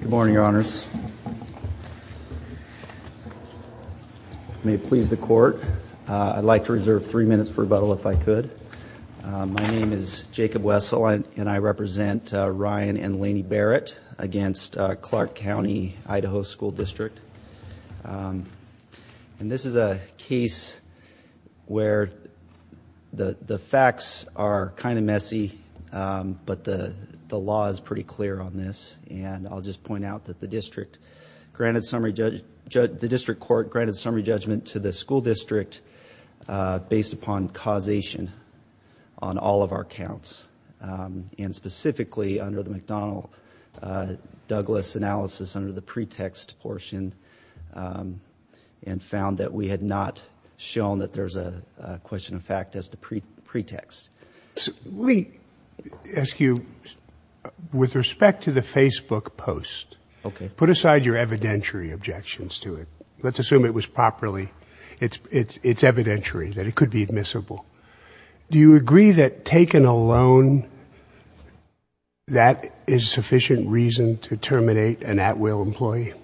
Good morning, Your Honors. May it please the Court, I'd like to reserve three minutes for rebuttal if I could. My name is Jacob Wessel and I represent Ryan and Laney Berrett against Clark County, Idaho School District. And this is a case where the facts are kind of messy, but the law is pretty clear on this. And I'll just point out that the district court granted summary judgment to the school district based upon causation on all of our counts. And specifically under the McDonnell-Douglas analysis under the pretext portion and found that we had not shown that there's a question of fact as the pretext. Let me ask you, with respect to the Facebook post, put aside your evidentiary objections to it. Let's assume it was properly, it's evidentiary that it could be admissible. Do you agree that taken alone, that is sufficient reason to terminate an at-will employee?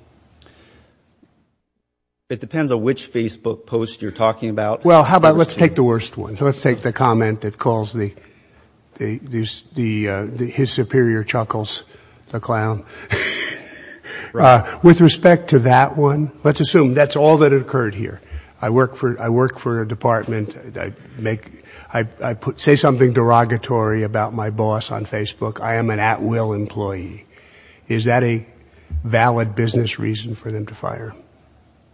It depends on which Facebook post you're talking about. Well, how about let's take the worst one. Let's take the comment that calls the, his superior chuckles the clown. With respect to that one, let's assume that's all that occurred here. I work for a department. I say something derogatory about my boss on Facebook. I am an at-will employee. Is that a valid business reason for them to fire?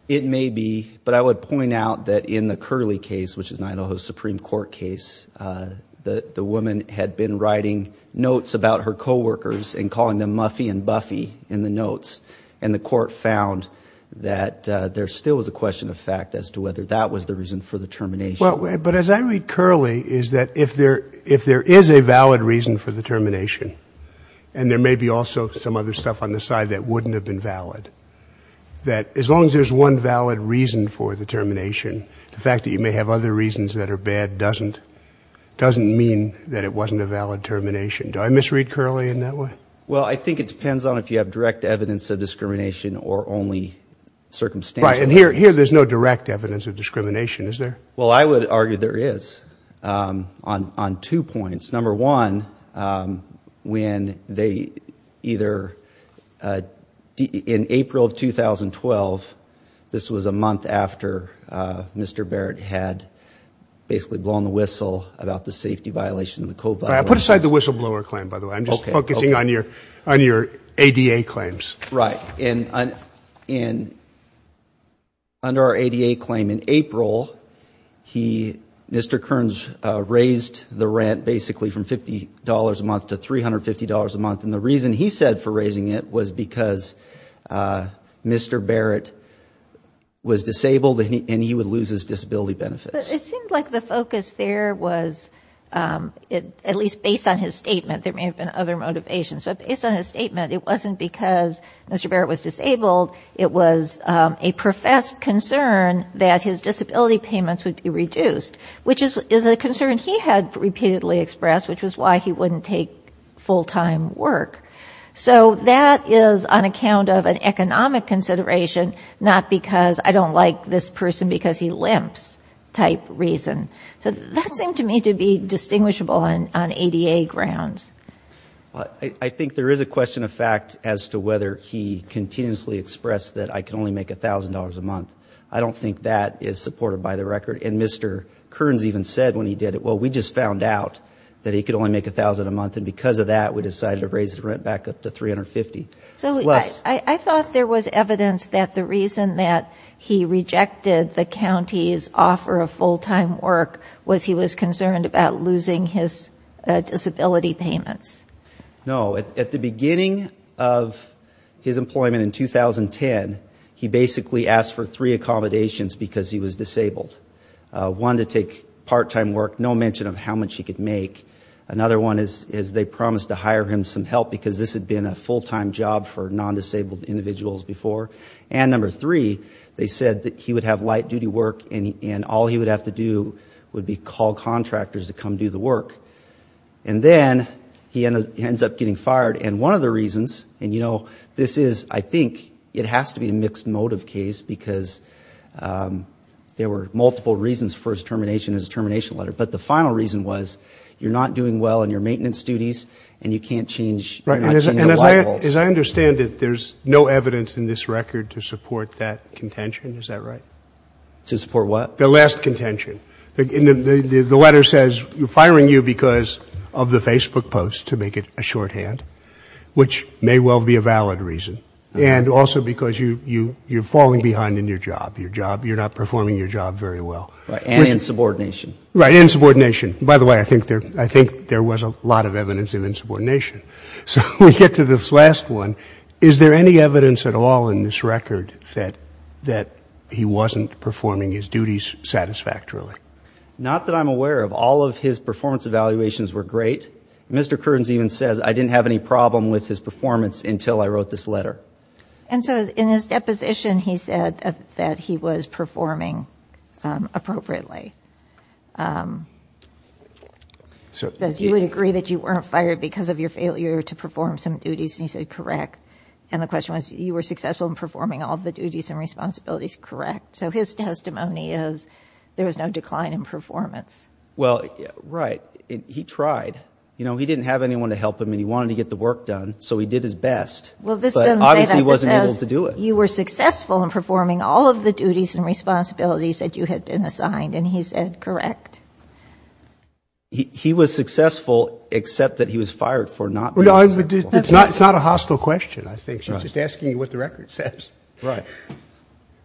It may be, but I would point out that in the Curley case, which is an Idaho Supreme Court case, the woman had been writing notes about her coworkers and calling them Muffy and Buffy in the notes. And the court found that there still was a question of fact as to whether that was the reason for the termination. But as I read Curley, is that if there is a valid reason for the termination, and there may be also some other stuff on the side that wouldn't have been valid, that as long as there's one valid reason for the termination, the fact that you may have other reasons that are bad doesn't mean that it wasn't a valid termination. Do I misread Curley in that way? Well, I think it depends on if you have direct evidence of discrimination or only circumstantial evidence. Right. And here there's no direct evidence of discrimination, is there? Well, I would argue there is on two points. Number one, when they either in April of 2012, this was a month after Mr. Barrett had basically blown the whistle about the safety violation of the COVA. I put aside the whistleblower claim, by the way. I'm just focusing on your ADA claims. Right. And under our ADA claim in April, Mr. Kearns raised the rent basically from $50 a month to $350 a month. And the reason he said for raising it was because Mr. Barrett was disabled and he would lose his disability benefits. But it seemed like the focus there was, at least based on his statement, there may have been other motivations. But based on his statement, it wasn't because Mr. Barrett was disabled. It was a professed concern that his disability payments would be reduced, which is a concern he had repeatedly expressed, which was why he wouldn't take full-time work. So that is on account of an economic consideration, not because I don't like this person because he limps type reason. So that seemed to me to be distinguishable on ADA grounds. I think there is a question of fact as to whether he continuously expressed that I can only make $1,000 a month. I don't think that is supported by the record. And Mr. Kearns even said when he did it, well, we just found out that he could only make $1,000 a month. And because of that, we decided to raise the rent back up to $350. So I thought there was evidence that the reason that he rejected the county's offer of full-time work was he was concerned about losing his disability payments. No. At the beginning of his employment in 2010, he basically asked for three accommodations because he was disabled. One, to take part-time work, no mention of how much he could make. Another one is they promised to hire him some help because this had been a full-time job for non-disabled individuals before. And number three, they said that he would have light-duty work and all he would have to do would be call contractors to come do the work. And then he ends up getting fired. And one of the reasons, and, you know, this is, I think, it has to be a mixed motive case because there were multiple reasons for his termination in his termination letter. But the final reason was you're not doing well in your maintenance duties and you can't change your life goals. And as I understand it, there's no evidence in this record to support that contention. Is that right? To support what? The last contention. The letter says you're firing you because of the Facebook post, to make it a shorthand, which may well be a valid reason. And also because you're falling behind in your job. Your job, you're not performing your job very well. And in subordination. Right, in subordination. By the way, I think there was a lot of evidence of insubordination. So we get to this last one. Is there any evidence at all in this record that he wasn't performing his duties satisfactorily? Not that I'm aware of. All of his performance evaluations were great. Mr. Kearns even says, I didn't have any problem with his performance until I wrote this letter. And so in his deposition, he said that he was performing appropriately. He says, you would agree that you weren't fired because of your failure to perform some duties. And he said, correct. And the question was, you were successful in performing all the duties and responsibilities. Correct. So his testimony is, there was no decline in performance. Well, right. He tried. He didn't have anyone to help him and he wanted to get the work done. So he did his best. Well, this doesn't say that. But obviously he wasn't able to do it. You were successful in performing all of the duties and responsibilities that you had been assigned. And he said, correct. He was successful except that he was fired for not being successful. It's not a hostile question, I think. She's just asking you what the record says. Right.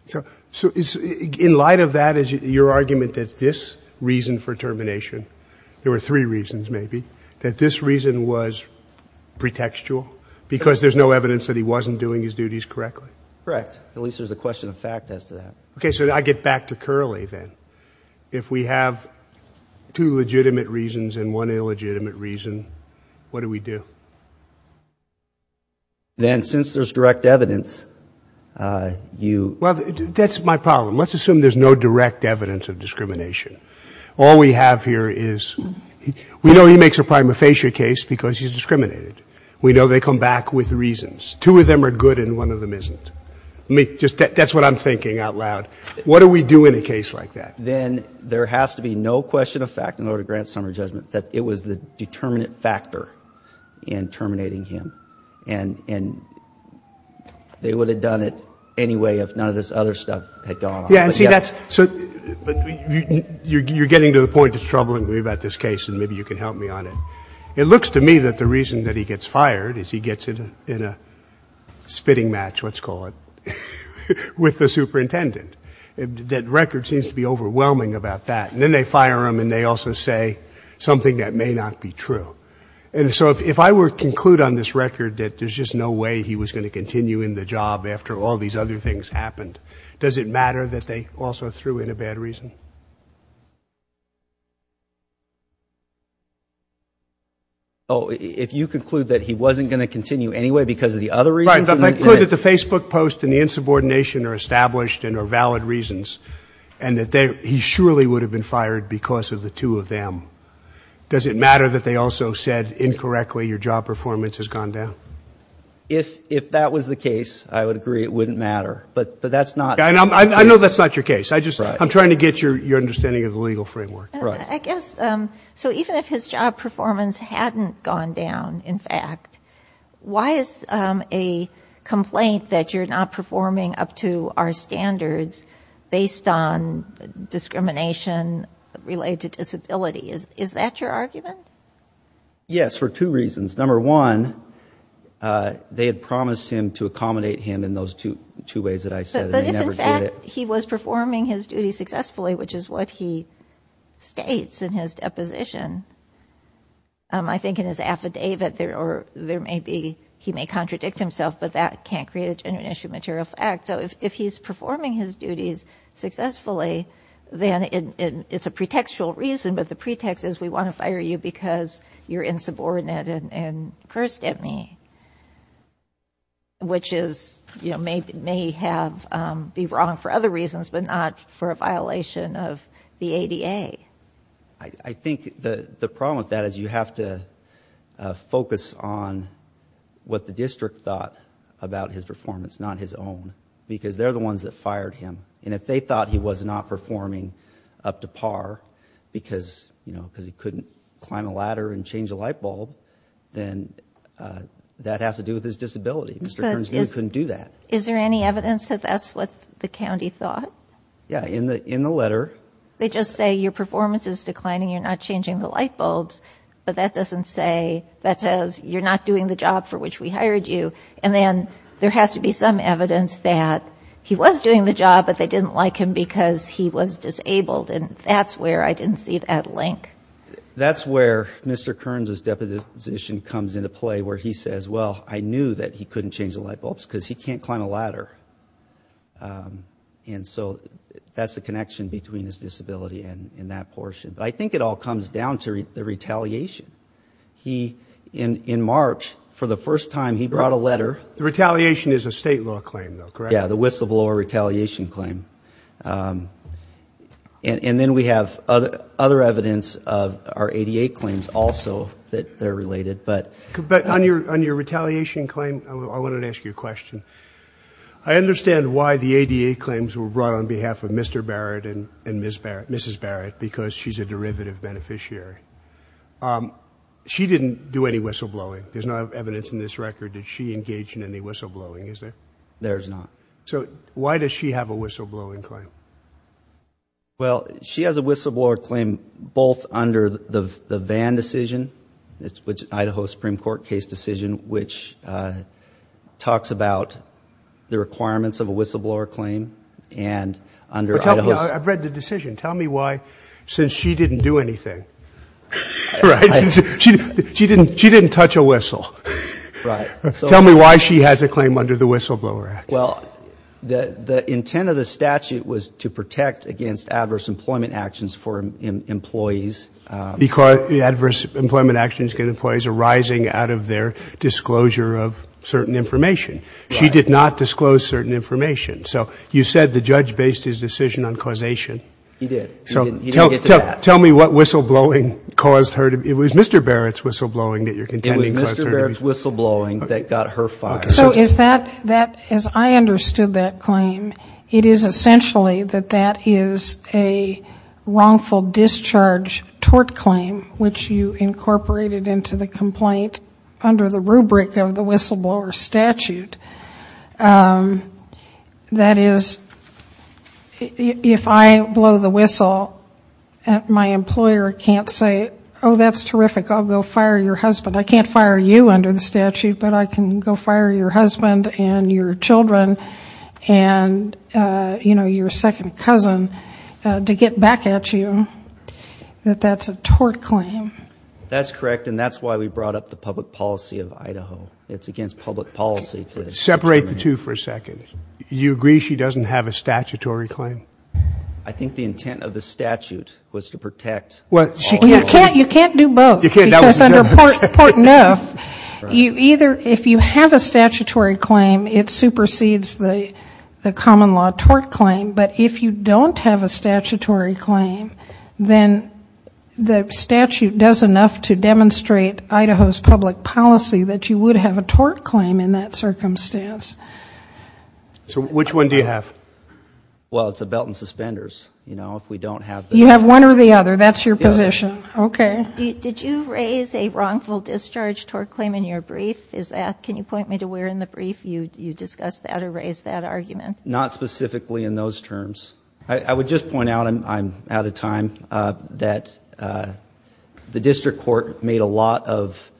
So in light of that is your argument that this reason for termination, there were three reasons maybe, that this reason was pretextual because there's no evidence that he wasn't doing his duties correctly? Correct. At least there's a question of fact as to that. Okay. So I get back to Curley then. If we have two legitimate reasons and one illegitimate reason, what do we do? Then since there's direct evidence, you – Well, that's my problem. Let's assume there's no direct evidence of discrimination. All we have here is we know he makes a prima facie case because he's discriminated. We know they come back with reasons. Two of them are good and one of them isn't. Let me just – that's what I'm thinking out loud. What do we do in a case like that? Then there has to be no question of fact in order to grant summary judgment that it was the determinant factor in terminating him. And they would have done it anyway if none of this other stuff had gone on. Yeah, and see, that's – so you're getting to the point that's troubling me about this case and maybe you can help me on it. It looks to me that the reason that he gets fired is he gets in a spitting match, let's call it, with the superintendent. That record seems to be overwhelming about that. And then they fire him and they also say something that may not be true. And so if I were to conclude on this record that there's just no way he was going to continue in the job after all these other things happened, does it matter that they also threw in a bad reason? Oh, if you conclude that he wasn't going to continue anyway because of the other reasons? Right, but if I conclude that the Facebook post and the insubordination are established and are valid reasons and that he surely would have been fired because of the two of them, does it matter that they also said incorrectly your job performance has gone down? If that was the case, I would agree it wouldn't matter. But that's not the case. I know that's not your case. I'm trying to get your understanding of the legal framework. I guess, so even if his job performance hadn't gone down, in fact, why is a complaint that you're not performing up to our standards based on discrimination related to disability? Is that your argument? Yes, for two reasons. Number one, they had promised him to accommodate him in those two ways that I said. But if, in fact, he was performing his duty successfully, which is what he states in his deposition, I think in his affidavit there may be, he may contradict himself, but that can't create a genuine issue of material fact. So if he's performing his duties successfully, then it's a pretextual reason, but the pretext is we want to fire you because you're insubordinate and cursed at me, which may be wrong for other reasons, but not for a violation of the ADA. I think the problem with that is you have to focus on what the district thought about his performance, not his own, because they're the ones that fired him. And if they thought he was not performing up to par because, you know, because he couldn't climb a ladder and change a light bulb, then that has to do with his disability. Mr. Kearns knew he couldn't do that. Is there any evidence that that's what the county thought? Yeah, in the letter. They just say your performance is declining, you're not changing the light bulbs, but that doesn't say, that says you're not doing the job for which we hired you. And then there has to be some evidence that he was doing the job, but they didn't like him because he was disabled, and that's where I didn't see that link. That's where Mr. Kearns' deposition comes into play, where he says, well, I knew that he couldn't change the light bulbs because he can't climb a ladder. And so that's the connection between his disability and that portion. But I think it all comes down to the retaliation. He, in March, for the first time, he brought a letter. Retaliation is a state law claim, though, correct? Yeah, the whistleblower retaliation claim. And then we have other evidence of our ADA claims also that they're related. But on your retaliation claim, I wanted to ask you a question. I understand why the ADA claims were brought on behalf of Mr. Barrett and Mrs. Barrett, because she's a derivative beneficiary. She didn't do any whistleblowing. There's no evidence in this record that she engaged in any whistleblowing, is there? There's not. So why does she have a whistleblowing claim? Well, she has a whistleblower claim both under the Vann decision, Idaho Supreme Court case decision, which talks about the requirements of a whistleblower claim, and under Idaho's. I've read the decision. Tell me why, since she didn't do anything, right? She didn't touch a whistle. Right. Tell me why she has a claim under the Whistleblower Act. Well, the intent of the statute was to protect against adverse employment actions for employees. Because adverse employment actions get employees arising out of their disclosure of certain information. She did not disclose certain information. So you said the judge based his decision on causation. He did. He didn't get to that. Tell me what whistleblowing caused her to be. It was Mr. Barrett's whistleblowing that you're contending caused her to be. It was Mr. Barrett's whistleblowing that got her fired. Okay. So is that, as I understood that claim, it is essentially that that is a wrongful discharge tort claim, which you incorporated into the complaint under the rubric of the whistleblower statute. That is, if I blow the whistle, my employer can't say, oh, that's terrific, I'll go fire your husband. I can't fire you under the statute, but I can go fire your husband and your children and, you know, your second cousin, to get back at you that that's a tort claim. That's correct, and that's why we brought up the public policy of Idaho. It's against public policy. Separate the two for a second. You agree she doesn't have a statutory claim? I think the intent of the statute was to protect. Well, she can't. You can't do both. Because under Portneuf, either if you have a statutory claim, it supersedes the common law tort claim. But if you don't have a statutory claim, then the statute does enough to demonstrate Idaho's public policy that you would have a tort claim in that circumstance. So which one do you have? Well, it's a belt and suspenders, you know, if we don't have the. You have one or the other. That's your position. Okay. Did you raise a wrongful discharge tort claim in your brief? Is that, can you point me to where in the brief you discussed that or raised that argument? Not specifically in those terms. I would just point out, I'm out of time, that the district court made a lot of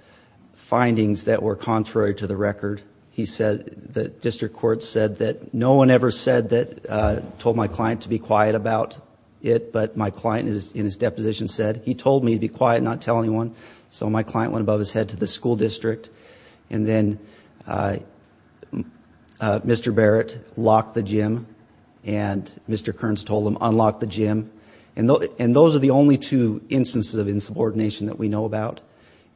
findings that were contrary to the record. He said, the district court said that no one ever said that, told my client to be quiet about it, but my client in his deposition said he told me to be quiet and not tell anyone. So my client went above his head to the school district. And then Mr. Barrett locked the gym and Mr. Kearns told him, unlock the gym. And those are the only two instances of insubordination that we know about,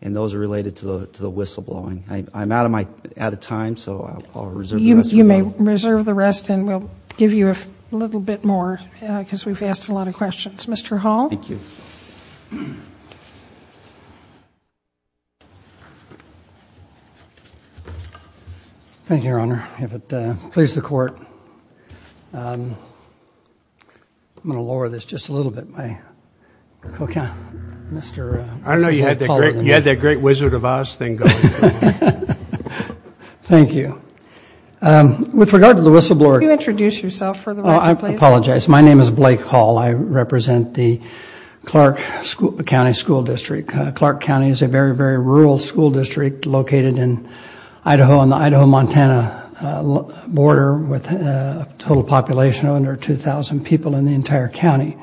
and those are related to the whistleblowing. I'm out of time, so I'll reserve the rest. You may reserve the rest and we'll give you a little bit more because we've asked a lot of questions. Mr. Hall? Thank you. Thank you, Your Honor. If it pleases the court, I'm going to lower this just a little bit. I don't know, you had that great Wizard of Oz thing going. Thank you. With regard to the whistleblower. Could you introduce yourself for the record, please? I apologize. My name is Blake Hall. I represent the Clark County School District. Clark County is a very, very rural school district located in Idaho on the Idaho-Montana border with a total population of under 2,000 people in the entire county.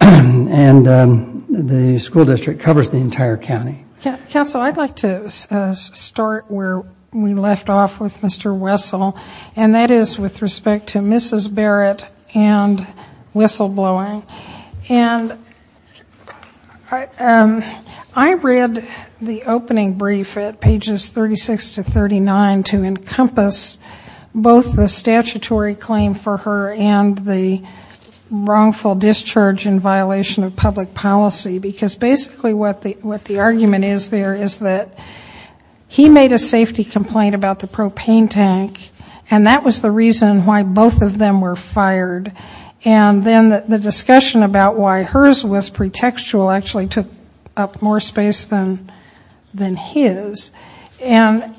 And the school district covers the entire county. Counsel, I'd like to start where we left off with Mr. Wessel, and that is with respect to Mrs. Barrett and whistleblowing. And I read the opening brief at pages 36 to 39 to encompass both the statutory claim for her and the wrongful discharge in violation of public policy, because basically what the argument is there is that he made a safety complaint about the propane tank, and that was the reason why both of them were fired. And then the discussion about why hers was pretextual actually took up more space than his. And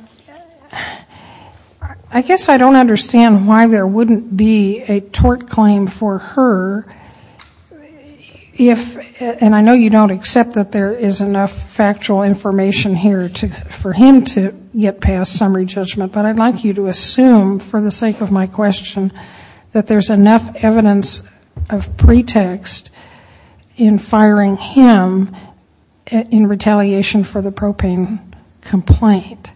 I guess I don't understand why there wouldn't be a tort claim for her if, and I know you don't accept that there is enough factual information here for him to get past summary judgment, but I'd like you to assume for the sake of my question that there's enough evidence of pretext in firing him in retaliation for the propane complaint.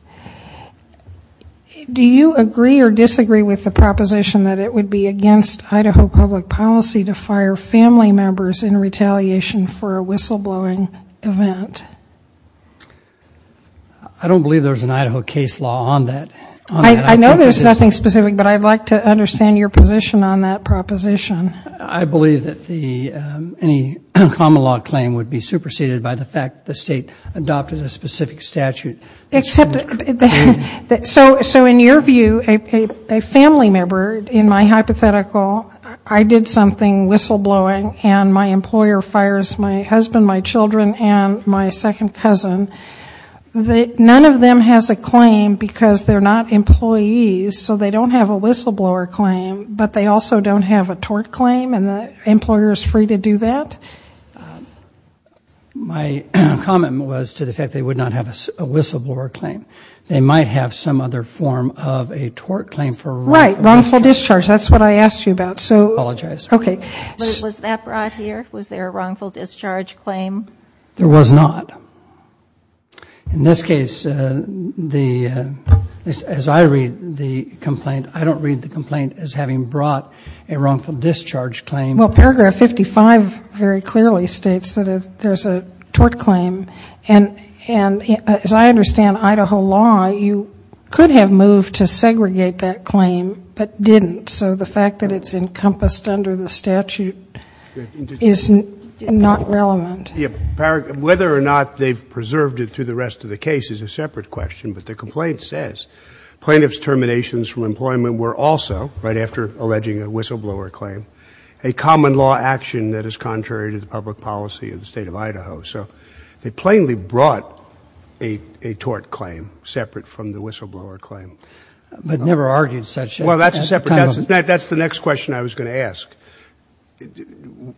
Do you agree or disagree with the proposition that it would be against Idaho public policy to fire family members in retaliation for a whistleblowing event? I don't believe there's an Idaho case law on that. I know there's nothing specific, but I'd like to understand your position on that proposition. I believe that any common law claim would be superseded by the fact that the State adopted a specific statute. Except, so in your view, a family member, in my hypothetical, I did something whistleblowing and my employer fires my husband, my children, and my second cousin. None of them has a claim because they're not employees, so they don't have a whistleblower claim, but they also don't have a tort claim and the employer is free to do that? My comment was to the fact they would not have a whistleblower claim. They might have some other form of a tort claim for wrongful discharge. Right, wrongful discharge. That's what I asked you about. I apologize. Okay. Was that brought here? Was there a wrongful discharge claim? There was not. In this case, as I read the complaint, I don't read the complaint as having brought a wrongful discharge claim. Well, paragraph 55 very clearly states that there's a tort claim. And as I understand Idaho law, you could have moved to segregate that claim but didn't. So the fact that it's encompassed under the statute is not relevant. Whether or not they've preserved it through the rest of the case is a separate question, but the complaint says plaintiff's terminations from employment were also, right after alleging a whistleblower claim, a common law action that is contrary to the public policy of the State of Idaho. So they plainly brought a tort claim separate from the whistleblower claim. But never argued such a claim? Well, that's a separate question. That's the next question I was going to ask.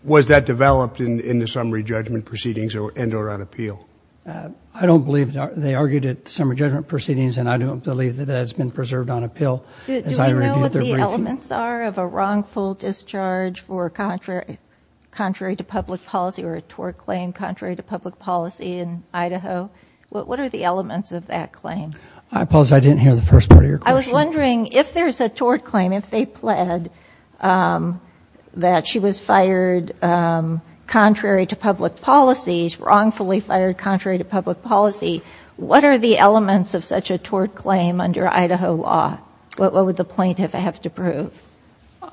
Was that developed in the summary judgment proceedings and or on appeal? I don't believe they argued it in the summary judgment proceedings, and I don't believe that that's been preserved on appeal. Do we know what the elements are of a wrongful discharge for contrary to public policy or a tort claim contrary to public policy in Idaho? What are the elements of that claim? I apologize. I didn't hear the first part of your question. I was wondering if there's a tort claim, if they pled that she was fired contrary to public policies, wrongfully fired contrary to public policy, what are the elements of such a tort claim under Idaho law? What would the plaintiff have to prove?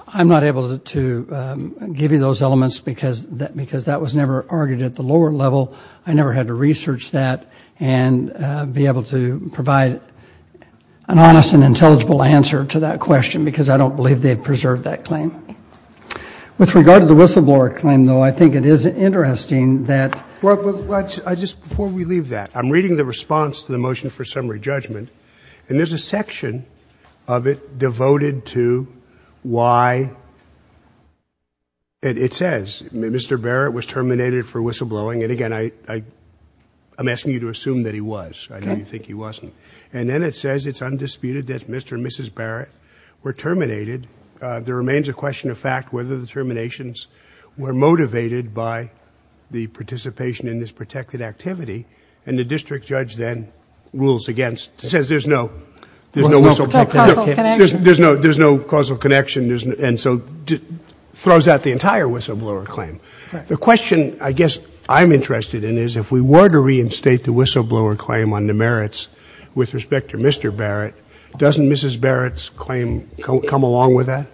I'm not able to give you those elements because that was never argued at the lower level. I never had to research that and be able to provide an honest and intelligible answer to that question because I don't believe they preserved that claim. With regard to the whistleblower claim, though, I think it is interesting that ‑‑ Well, before we leave that, I'm reading the response to the motion for summary judgment, and there's a section of it devoted to why it says Mr. Barrett was terminated for whistleblowing. And, again, I'm asking you to assume that he was. Okay. I know you think he wasn't. And then it says it's undisputed that Mr. and Mrs. Barrett were terminated. There remains a question of fact whether the terminations were motivated by the participation in this protected activity. And the district judge then rules against it, says there's no whistleblowing. There's no causal connection. There's no causal connection, and so throws out the entire whistleblower claim. The question, I guess, I'm interested in is if we were to reinstate the whistleblower claim on the merits with respect to Mr. Barrett, doesn't Mrs. Barrett's claim come along with that?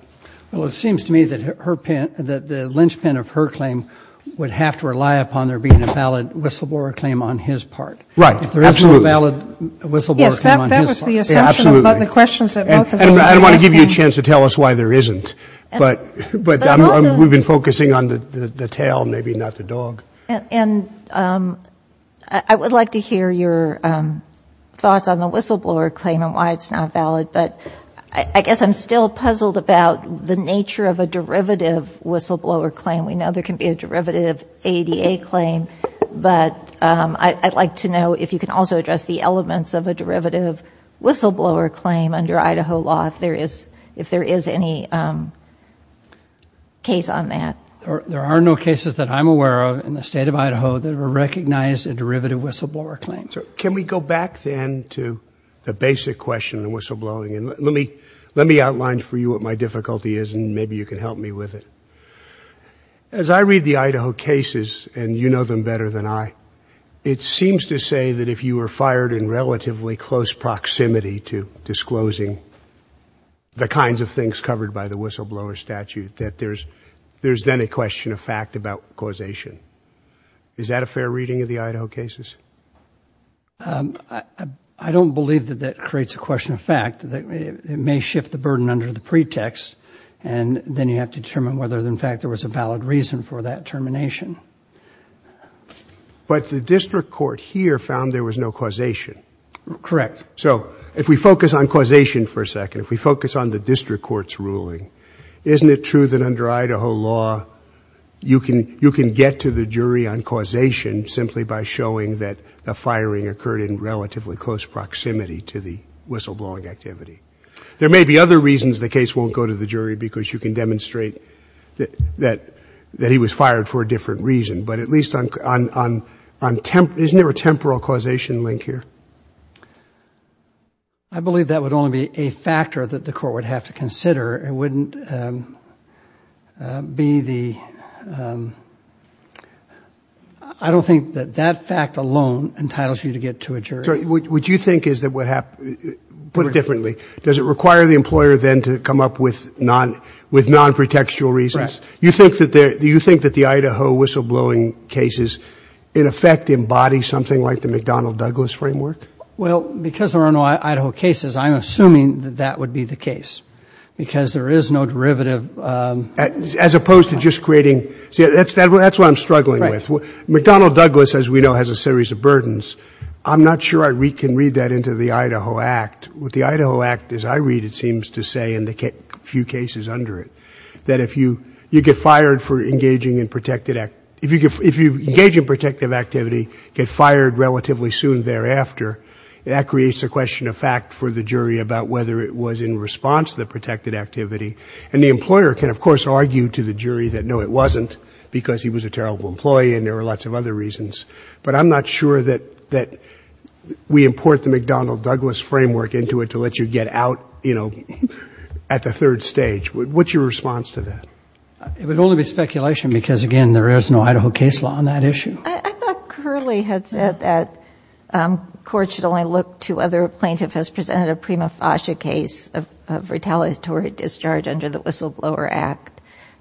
Well, it seems to me that her ‑‑ that the linchpin of her claim would have to rely upon there being a valid whistleblower claim on his part. Right. Absolutely. If there is no valid whistleblower claim on his part. Yes, that was the assumption about the questions that both of you were asking. I don't want to give you a chance to tell us why there isn't. But we've been focusing on the tail, maybe not the dog. And I would like to hear your thoughts on the whistleblower claim and why it's not valid. But I guess I'm still puzzled about the nature of a derivative whistleblower claim. We know there can be a derivative ADA claim. But I'd like to know if you can also address the elements of a derivative whistleblower claim under Idaho law, if there is any case on that. There are no cases that I'm aware of in the state of Idaho that recognize a derivative whistleblower claim. Can we go back then to the basic question of whistleblowing? And let me outline for you what my difficulty is and maybe you can help me with it. As I read the Idaho cases, and you know them better than I, it seems to say that if you were fired in relatively close proximity to disclosing the kinds of things covered by the whistleblower statute, that there's then a question of fact about causation. Is that a fair reading of the Idaho cases? I don't believe that that creates a question of fact. It may shift the burden under the pretext, and then you have to determine whether in fact there was a valid reason for that termination. But the district court here found there was no causation. Correct. So if we focus on causation for a second, if we focus on the district court's ruling, isn't it true that under Idaho law you can get to the jury on causation simply by showing that a firing occurred in relatively close proximity to the whistleblowing activity? There may be other reasons the case won't go to the jury because you can demonstrate that he was fired for a different reason. But at least on – isn't there a temporal causation link here? I believe that would only be a factor that the court would have to consider. It wouldn't be the – I don't think that that fact alone entitles you to get to a jury. What you think is that what happened – put it differently. Does it require the employer then to come up with non-pretextual reasons? Do you think that the Idaho whistleblowing cases, in effect, embody something like the McDonnell-Douglas framework? Well, because there are no Idaho cases, I'm assuming that that would be the case because there is no derivative. As opposed to just creating – see, that's what I'm struggling with. McDonnell-Douglas, as we know, has a series of burdens. I'm not sure I can read that into the Idaho Act. What the Idaho Act, as I read it, seems to say in the few cases under it, that if you get fired for engaging in protected – if you engage in protective activity, get fired relatively soon thereafter, that creates a question of fact for the jury about whether it was in response to the protected activity. And the employer can, of course, argue to the jury that, no, it wasn't, because he was a terrible employee and there were lots of other reasons. But I'm not sure that we import the McDonnell-Douglas framework into it to let you get out, you know, at the third stage. What's your response to that? It would only be speculation because, again, there is no Idaho case law on that issue. I thought Curley had said that courts should only look to other plaintiffs as presented a prima facie case of retaliatory discharge under the Whistleblower Act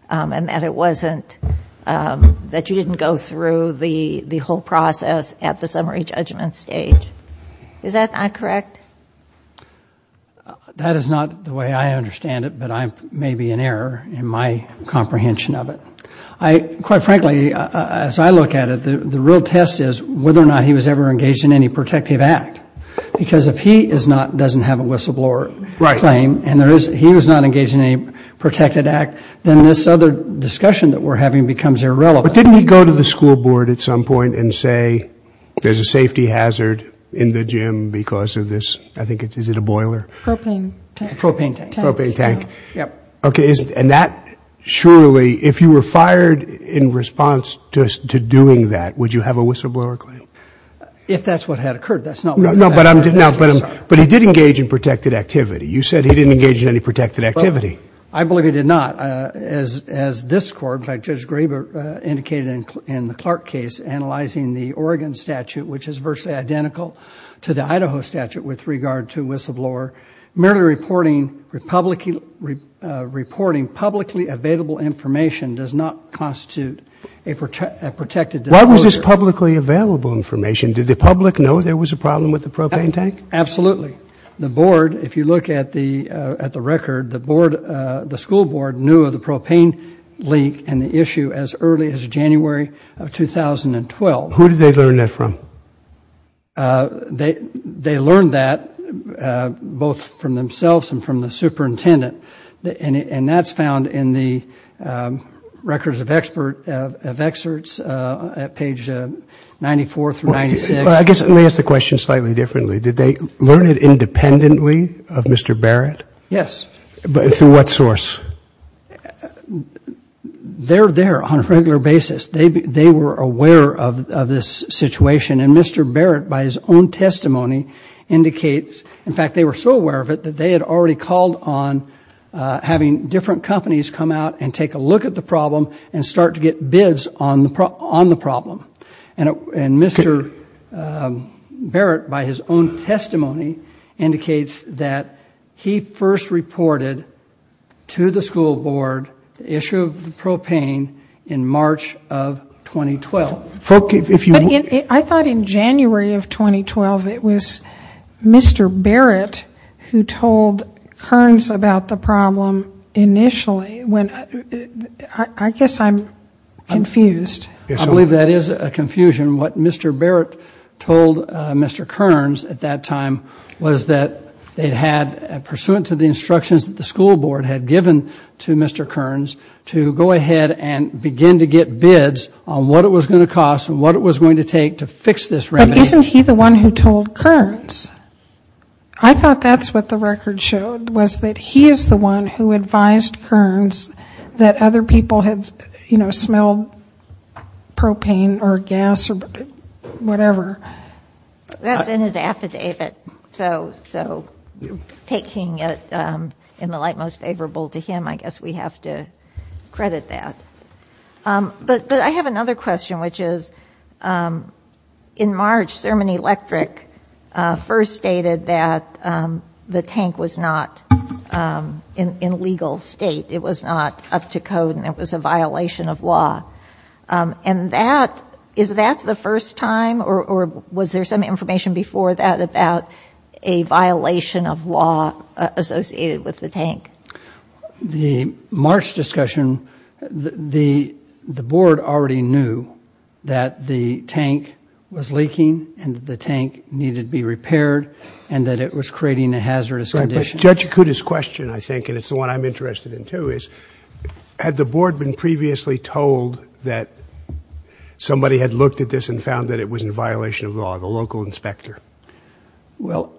and that it wasn't – that you didn't go through the whole process at the summary judgment stage. Is that not correct? That is not the way I understand it, but I may be in error in my comprehension of it. Quite frankly, as I look at it, the real test is whether or not he was ever engaged in any protective act, because if he is not – doesn't have a whistleblower claim and there is – he was not engaged in any protected act, then this other discussion that we're having becomes irrelevant. But didn't he go to the school board at some point and say there's a safety hazard in the gym because of this – I think it's – is it a boiler? Propane tank. Propane tank. Propane tank. Yep. Okay, and that surely – if you were fired in response to doing that, would you have a whistleblower claim? If that's what had occurred, that's not – No, but I'm – no, but he did engage in protected activity. You said he didn't engage in any protected activity. I believe he did not. As this Court, in fact, Judge Graber indicated in the Clark case, analyzing the Oregon statute, which is virtually identical to the Idaho statute with regard to whistleblower, merely reporting publicly available information does not constitute a protected disclosure. Why was this publicly available information? Did the public know there was a problem with the propane tank? Absolutely. The board, if you look at the record, the school board knew of the propane leak and the issue as early as January of 2012. Who did they learn that from? They learned that both from themselves and from the superintendent, and that's found in the records of excerpts at page 94 through 96. Well, I guess let me ask the question slightly differently. Did they learn it independently of Mr. Barrett? Yes. Through what source? They're there on a regular basis. They were aware of this situation, and Mr. Barrett, by his own testimony, indicates – in fact, they were so aware of it that they had already called on having different companies come out and take a look at the problem and start to get bids on the problem. And Mr. Barrett, by his own testimony, indicates that he first reported to the school board the issue of the propane in March of 2012. I thought in January of 2012 it was Mr. Barrett who told Kearns about the problem initially. I guess I'm confused. I believe that is a confusion. What Mr. Barrett told Mr. Kearns at that time was that they'd had, pursuant to the instructions that the school board had given to Mr. Kearns, to go ahead and begin to get bids on what it was going to cost and what it was going to take to fix this remedy. But isn't he the one who told Kearns? I thought that's what the record showed, was that he is the one who advised Kearns that other people had smelled propane or gas or whatever. That's in his affidavit. So taking it in the light most favorable to him, I guess we have to credit that. But I have another question, which is, in March, Sermon Electric first stated that the tank was not in legal state. It was not up to code and it was a violation of law. And that, is that the first time, or was there some information before that about a violation of law associated with the tank? The March discussion, the board already knew that the tank was leaking and that the tank needed to be repaired and that it was creating a hazardous condition. Judge Acuda's question, I think, and it's the one I'm interested in too, is had the board been previously told that somebody had looked at this and found that it was in violation of law, the local inspector? Well,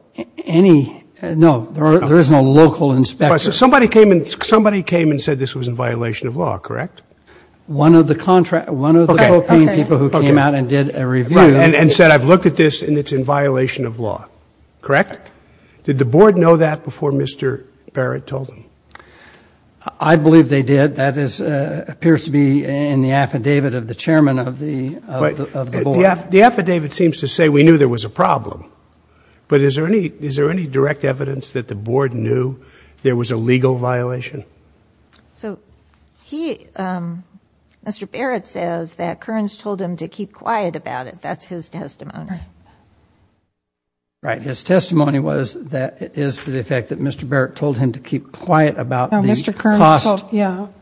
any, no, there is no local inspector. Somebody came and said this was in violation of law, correct? One of the propane people who came out and did a review. And said, I've looked at this and it's in violation of law, correct? Did the board know that before Mr. Barrett told them? I believe they did. That appears to be in the affidavit of the chairman of the board. The affidavit seems to say we knew there was a problem. But is there any direct evidence that the board knew there was a legal violation? So he, Mr. Barrett says that Kearns told him to keep quiet about it. That's his testimony. Right. His testimony was that it is for the effect that Mr. Barrett told him to keep quiet about the cost,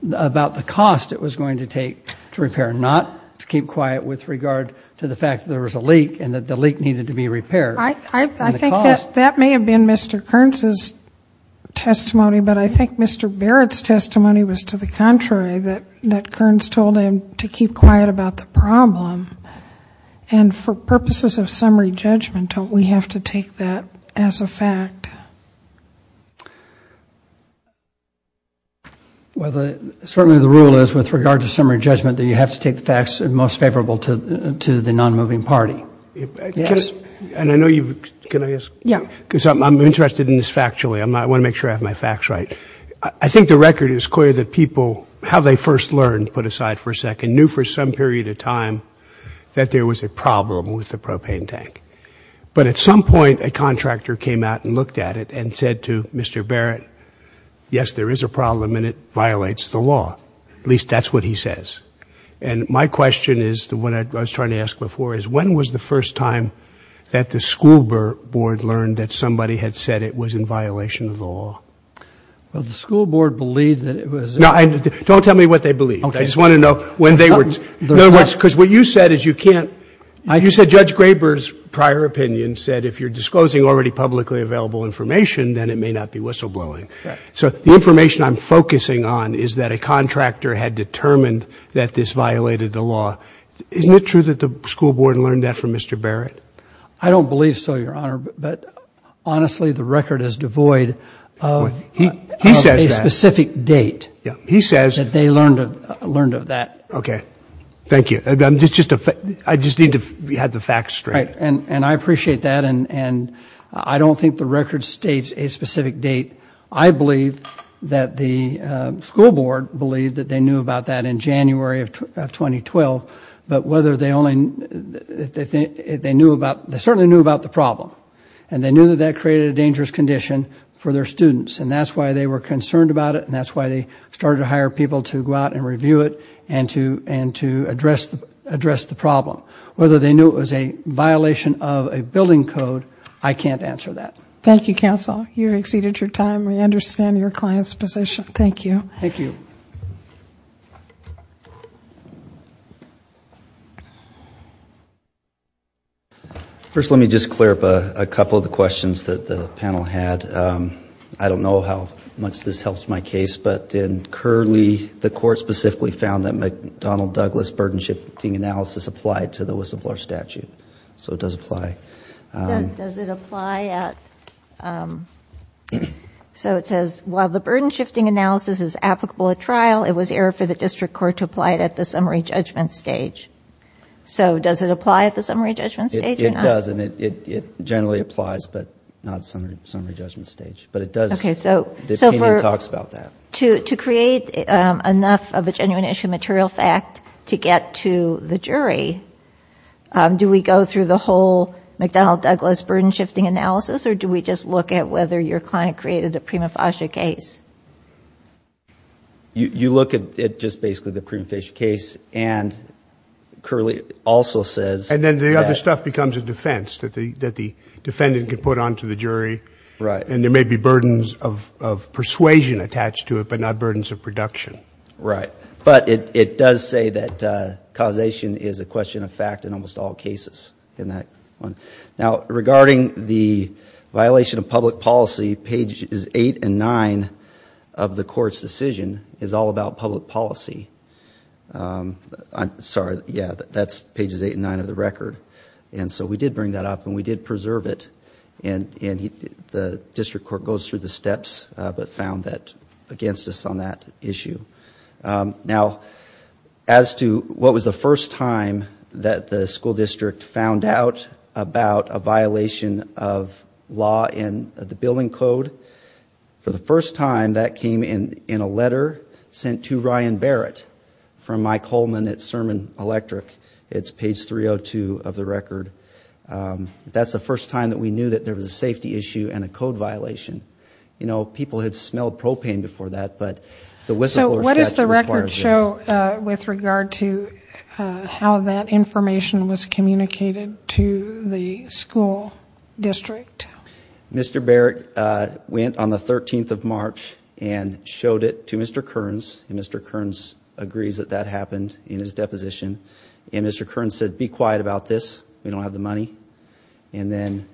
about the cost it was going to take to repair, not to keep quiet with regard to the fact that there was a leak and that the leak needed to be repaired. I think that may have been Mr. Kearns' testimony, but I think Mr. Barrett's testimony was to the contrary, that Kearns told him to keep quiet about the problem. And for purposes of summary judgment, don't we have to take that as a fact? Well, certainly the rule is with regard to summary judgment that you have to take the facts most favorable to the non-moving party. Yes. And I know you've, can I ask? Yeah. Because I'm interested in this factually. I want to make sure I have my facts right. I think the record is clear that people, how they first learned, put aside for a second, knew for some period of time that there was a problem with the propane tank. But at some point, a contractor came out and looked at it and said to Mr. Barrett, yes, there is a problem and it violates the law. At least that's what he says. And my question is, what I was trying to ask before, is when was the first time that the school board learned that somebody had said it was in violation of the law? Well, the school board believed that it was. No, don't tell me what they believed. I just want to know when they were, because what you said is you can't, you said Judge Graber's prior opinion said if you're disclosing already publicly available information, then it may not be whistleblowing. So the information I'm focusing on is that a contractor had determined that this violated the law. Isn't it true that the school board learned that from Mr. Barrett? I don't believe so, Your Honor, but honestly, the record is devoid of a specific date. He says that they learned of that. Okay. Thank you. I just need to have the facts straight. And I appreciate that, and I don't think the record states a specific date. I believe that the school board believed that they knew about that in January of 2012, but whether they only, they certainly knew about the problem, and they knew that that created a dangerous condition for their students, and that's why they were concerned about it, and that's why they started to hire people to go out and review it and to address the problem. Whether they knew it was a violation of a building code, I can't answer that. Thank you, counsel. You've exceeded your time. We understand your client's position. Thank you. Thank you. First, let me just clear up a couple of the questions that the panel had. I don't know how much this helps my case, but in Curley, the court specifically found that McDonnell-Douglas burden-shifting analysis applied to the whistleblower statute. So it does apply. Does it apply at, so it says, while the burden-shifting analysis is applicable at trial, it was error for the district court to apply it at the summary judgment stage. So does it apply at the summary judgment stage or not? It does, and it generally applies, but not at the summary judgment stage. But it does, the opinion talks about that. To create enough of a genuine issue material fact to get to the jury, do we go through the whole McDonnell-Douglas burden-shifting analysis, or do we just look at whether your client created a prima facie case? You look at just basically the prima facie case, and Curley also says that. So this stuff becomes a defense that the defendant can put onto the jury. Right. And there may be burdens of persuasion attached to it, but not burdens of production. Right. But it does say that causation is a question of fact in almost all cases in that one. Now, regarding the violation of public policy, pages 8 and 9 of the court's decision is all about public policy. I'm sorry, yeah, that's pages 8 and 9 of the record. And so we did bring that up, and we did preserve it, and the district court goes through the steps but found that against us on that issue. Now, as to what was the first time that the school district found out about a violation of law in the billing code, for the first time that came in a letter sent to Ryan Barrett from Mike Holman at Sermon Electric. It's page 302 of the record. That's the first time that we knew that there was a safety issue and a code violation. You know, people had smelled propane before that, but the whistleblower statute requires this. So what does the record show with regard to how that information was communicated to the school district? Mr. Barrett went on the 13th of March and showed it to Mr. Kearns, and Mr. Kearns agrees that that happened in his deposition. And Mr. Kearns said, be quiet about this. We don't have the money. And then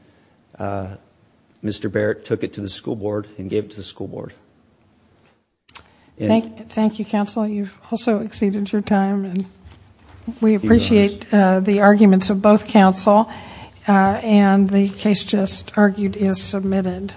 Mr. Barrett took it to the school board and gave it to the school board. Thank you, counsel. You've also exceeded your time. We appreciate the arguments of both counsel. And the case just argued is submitted.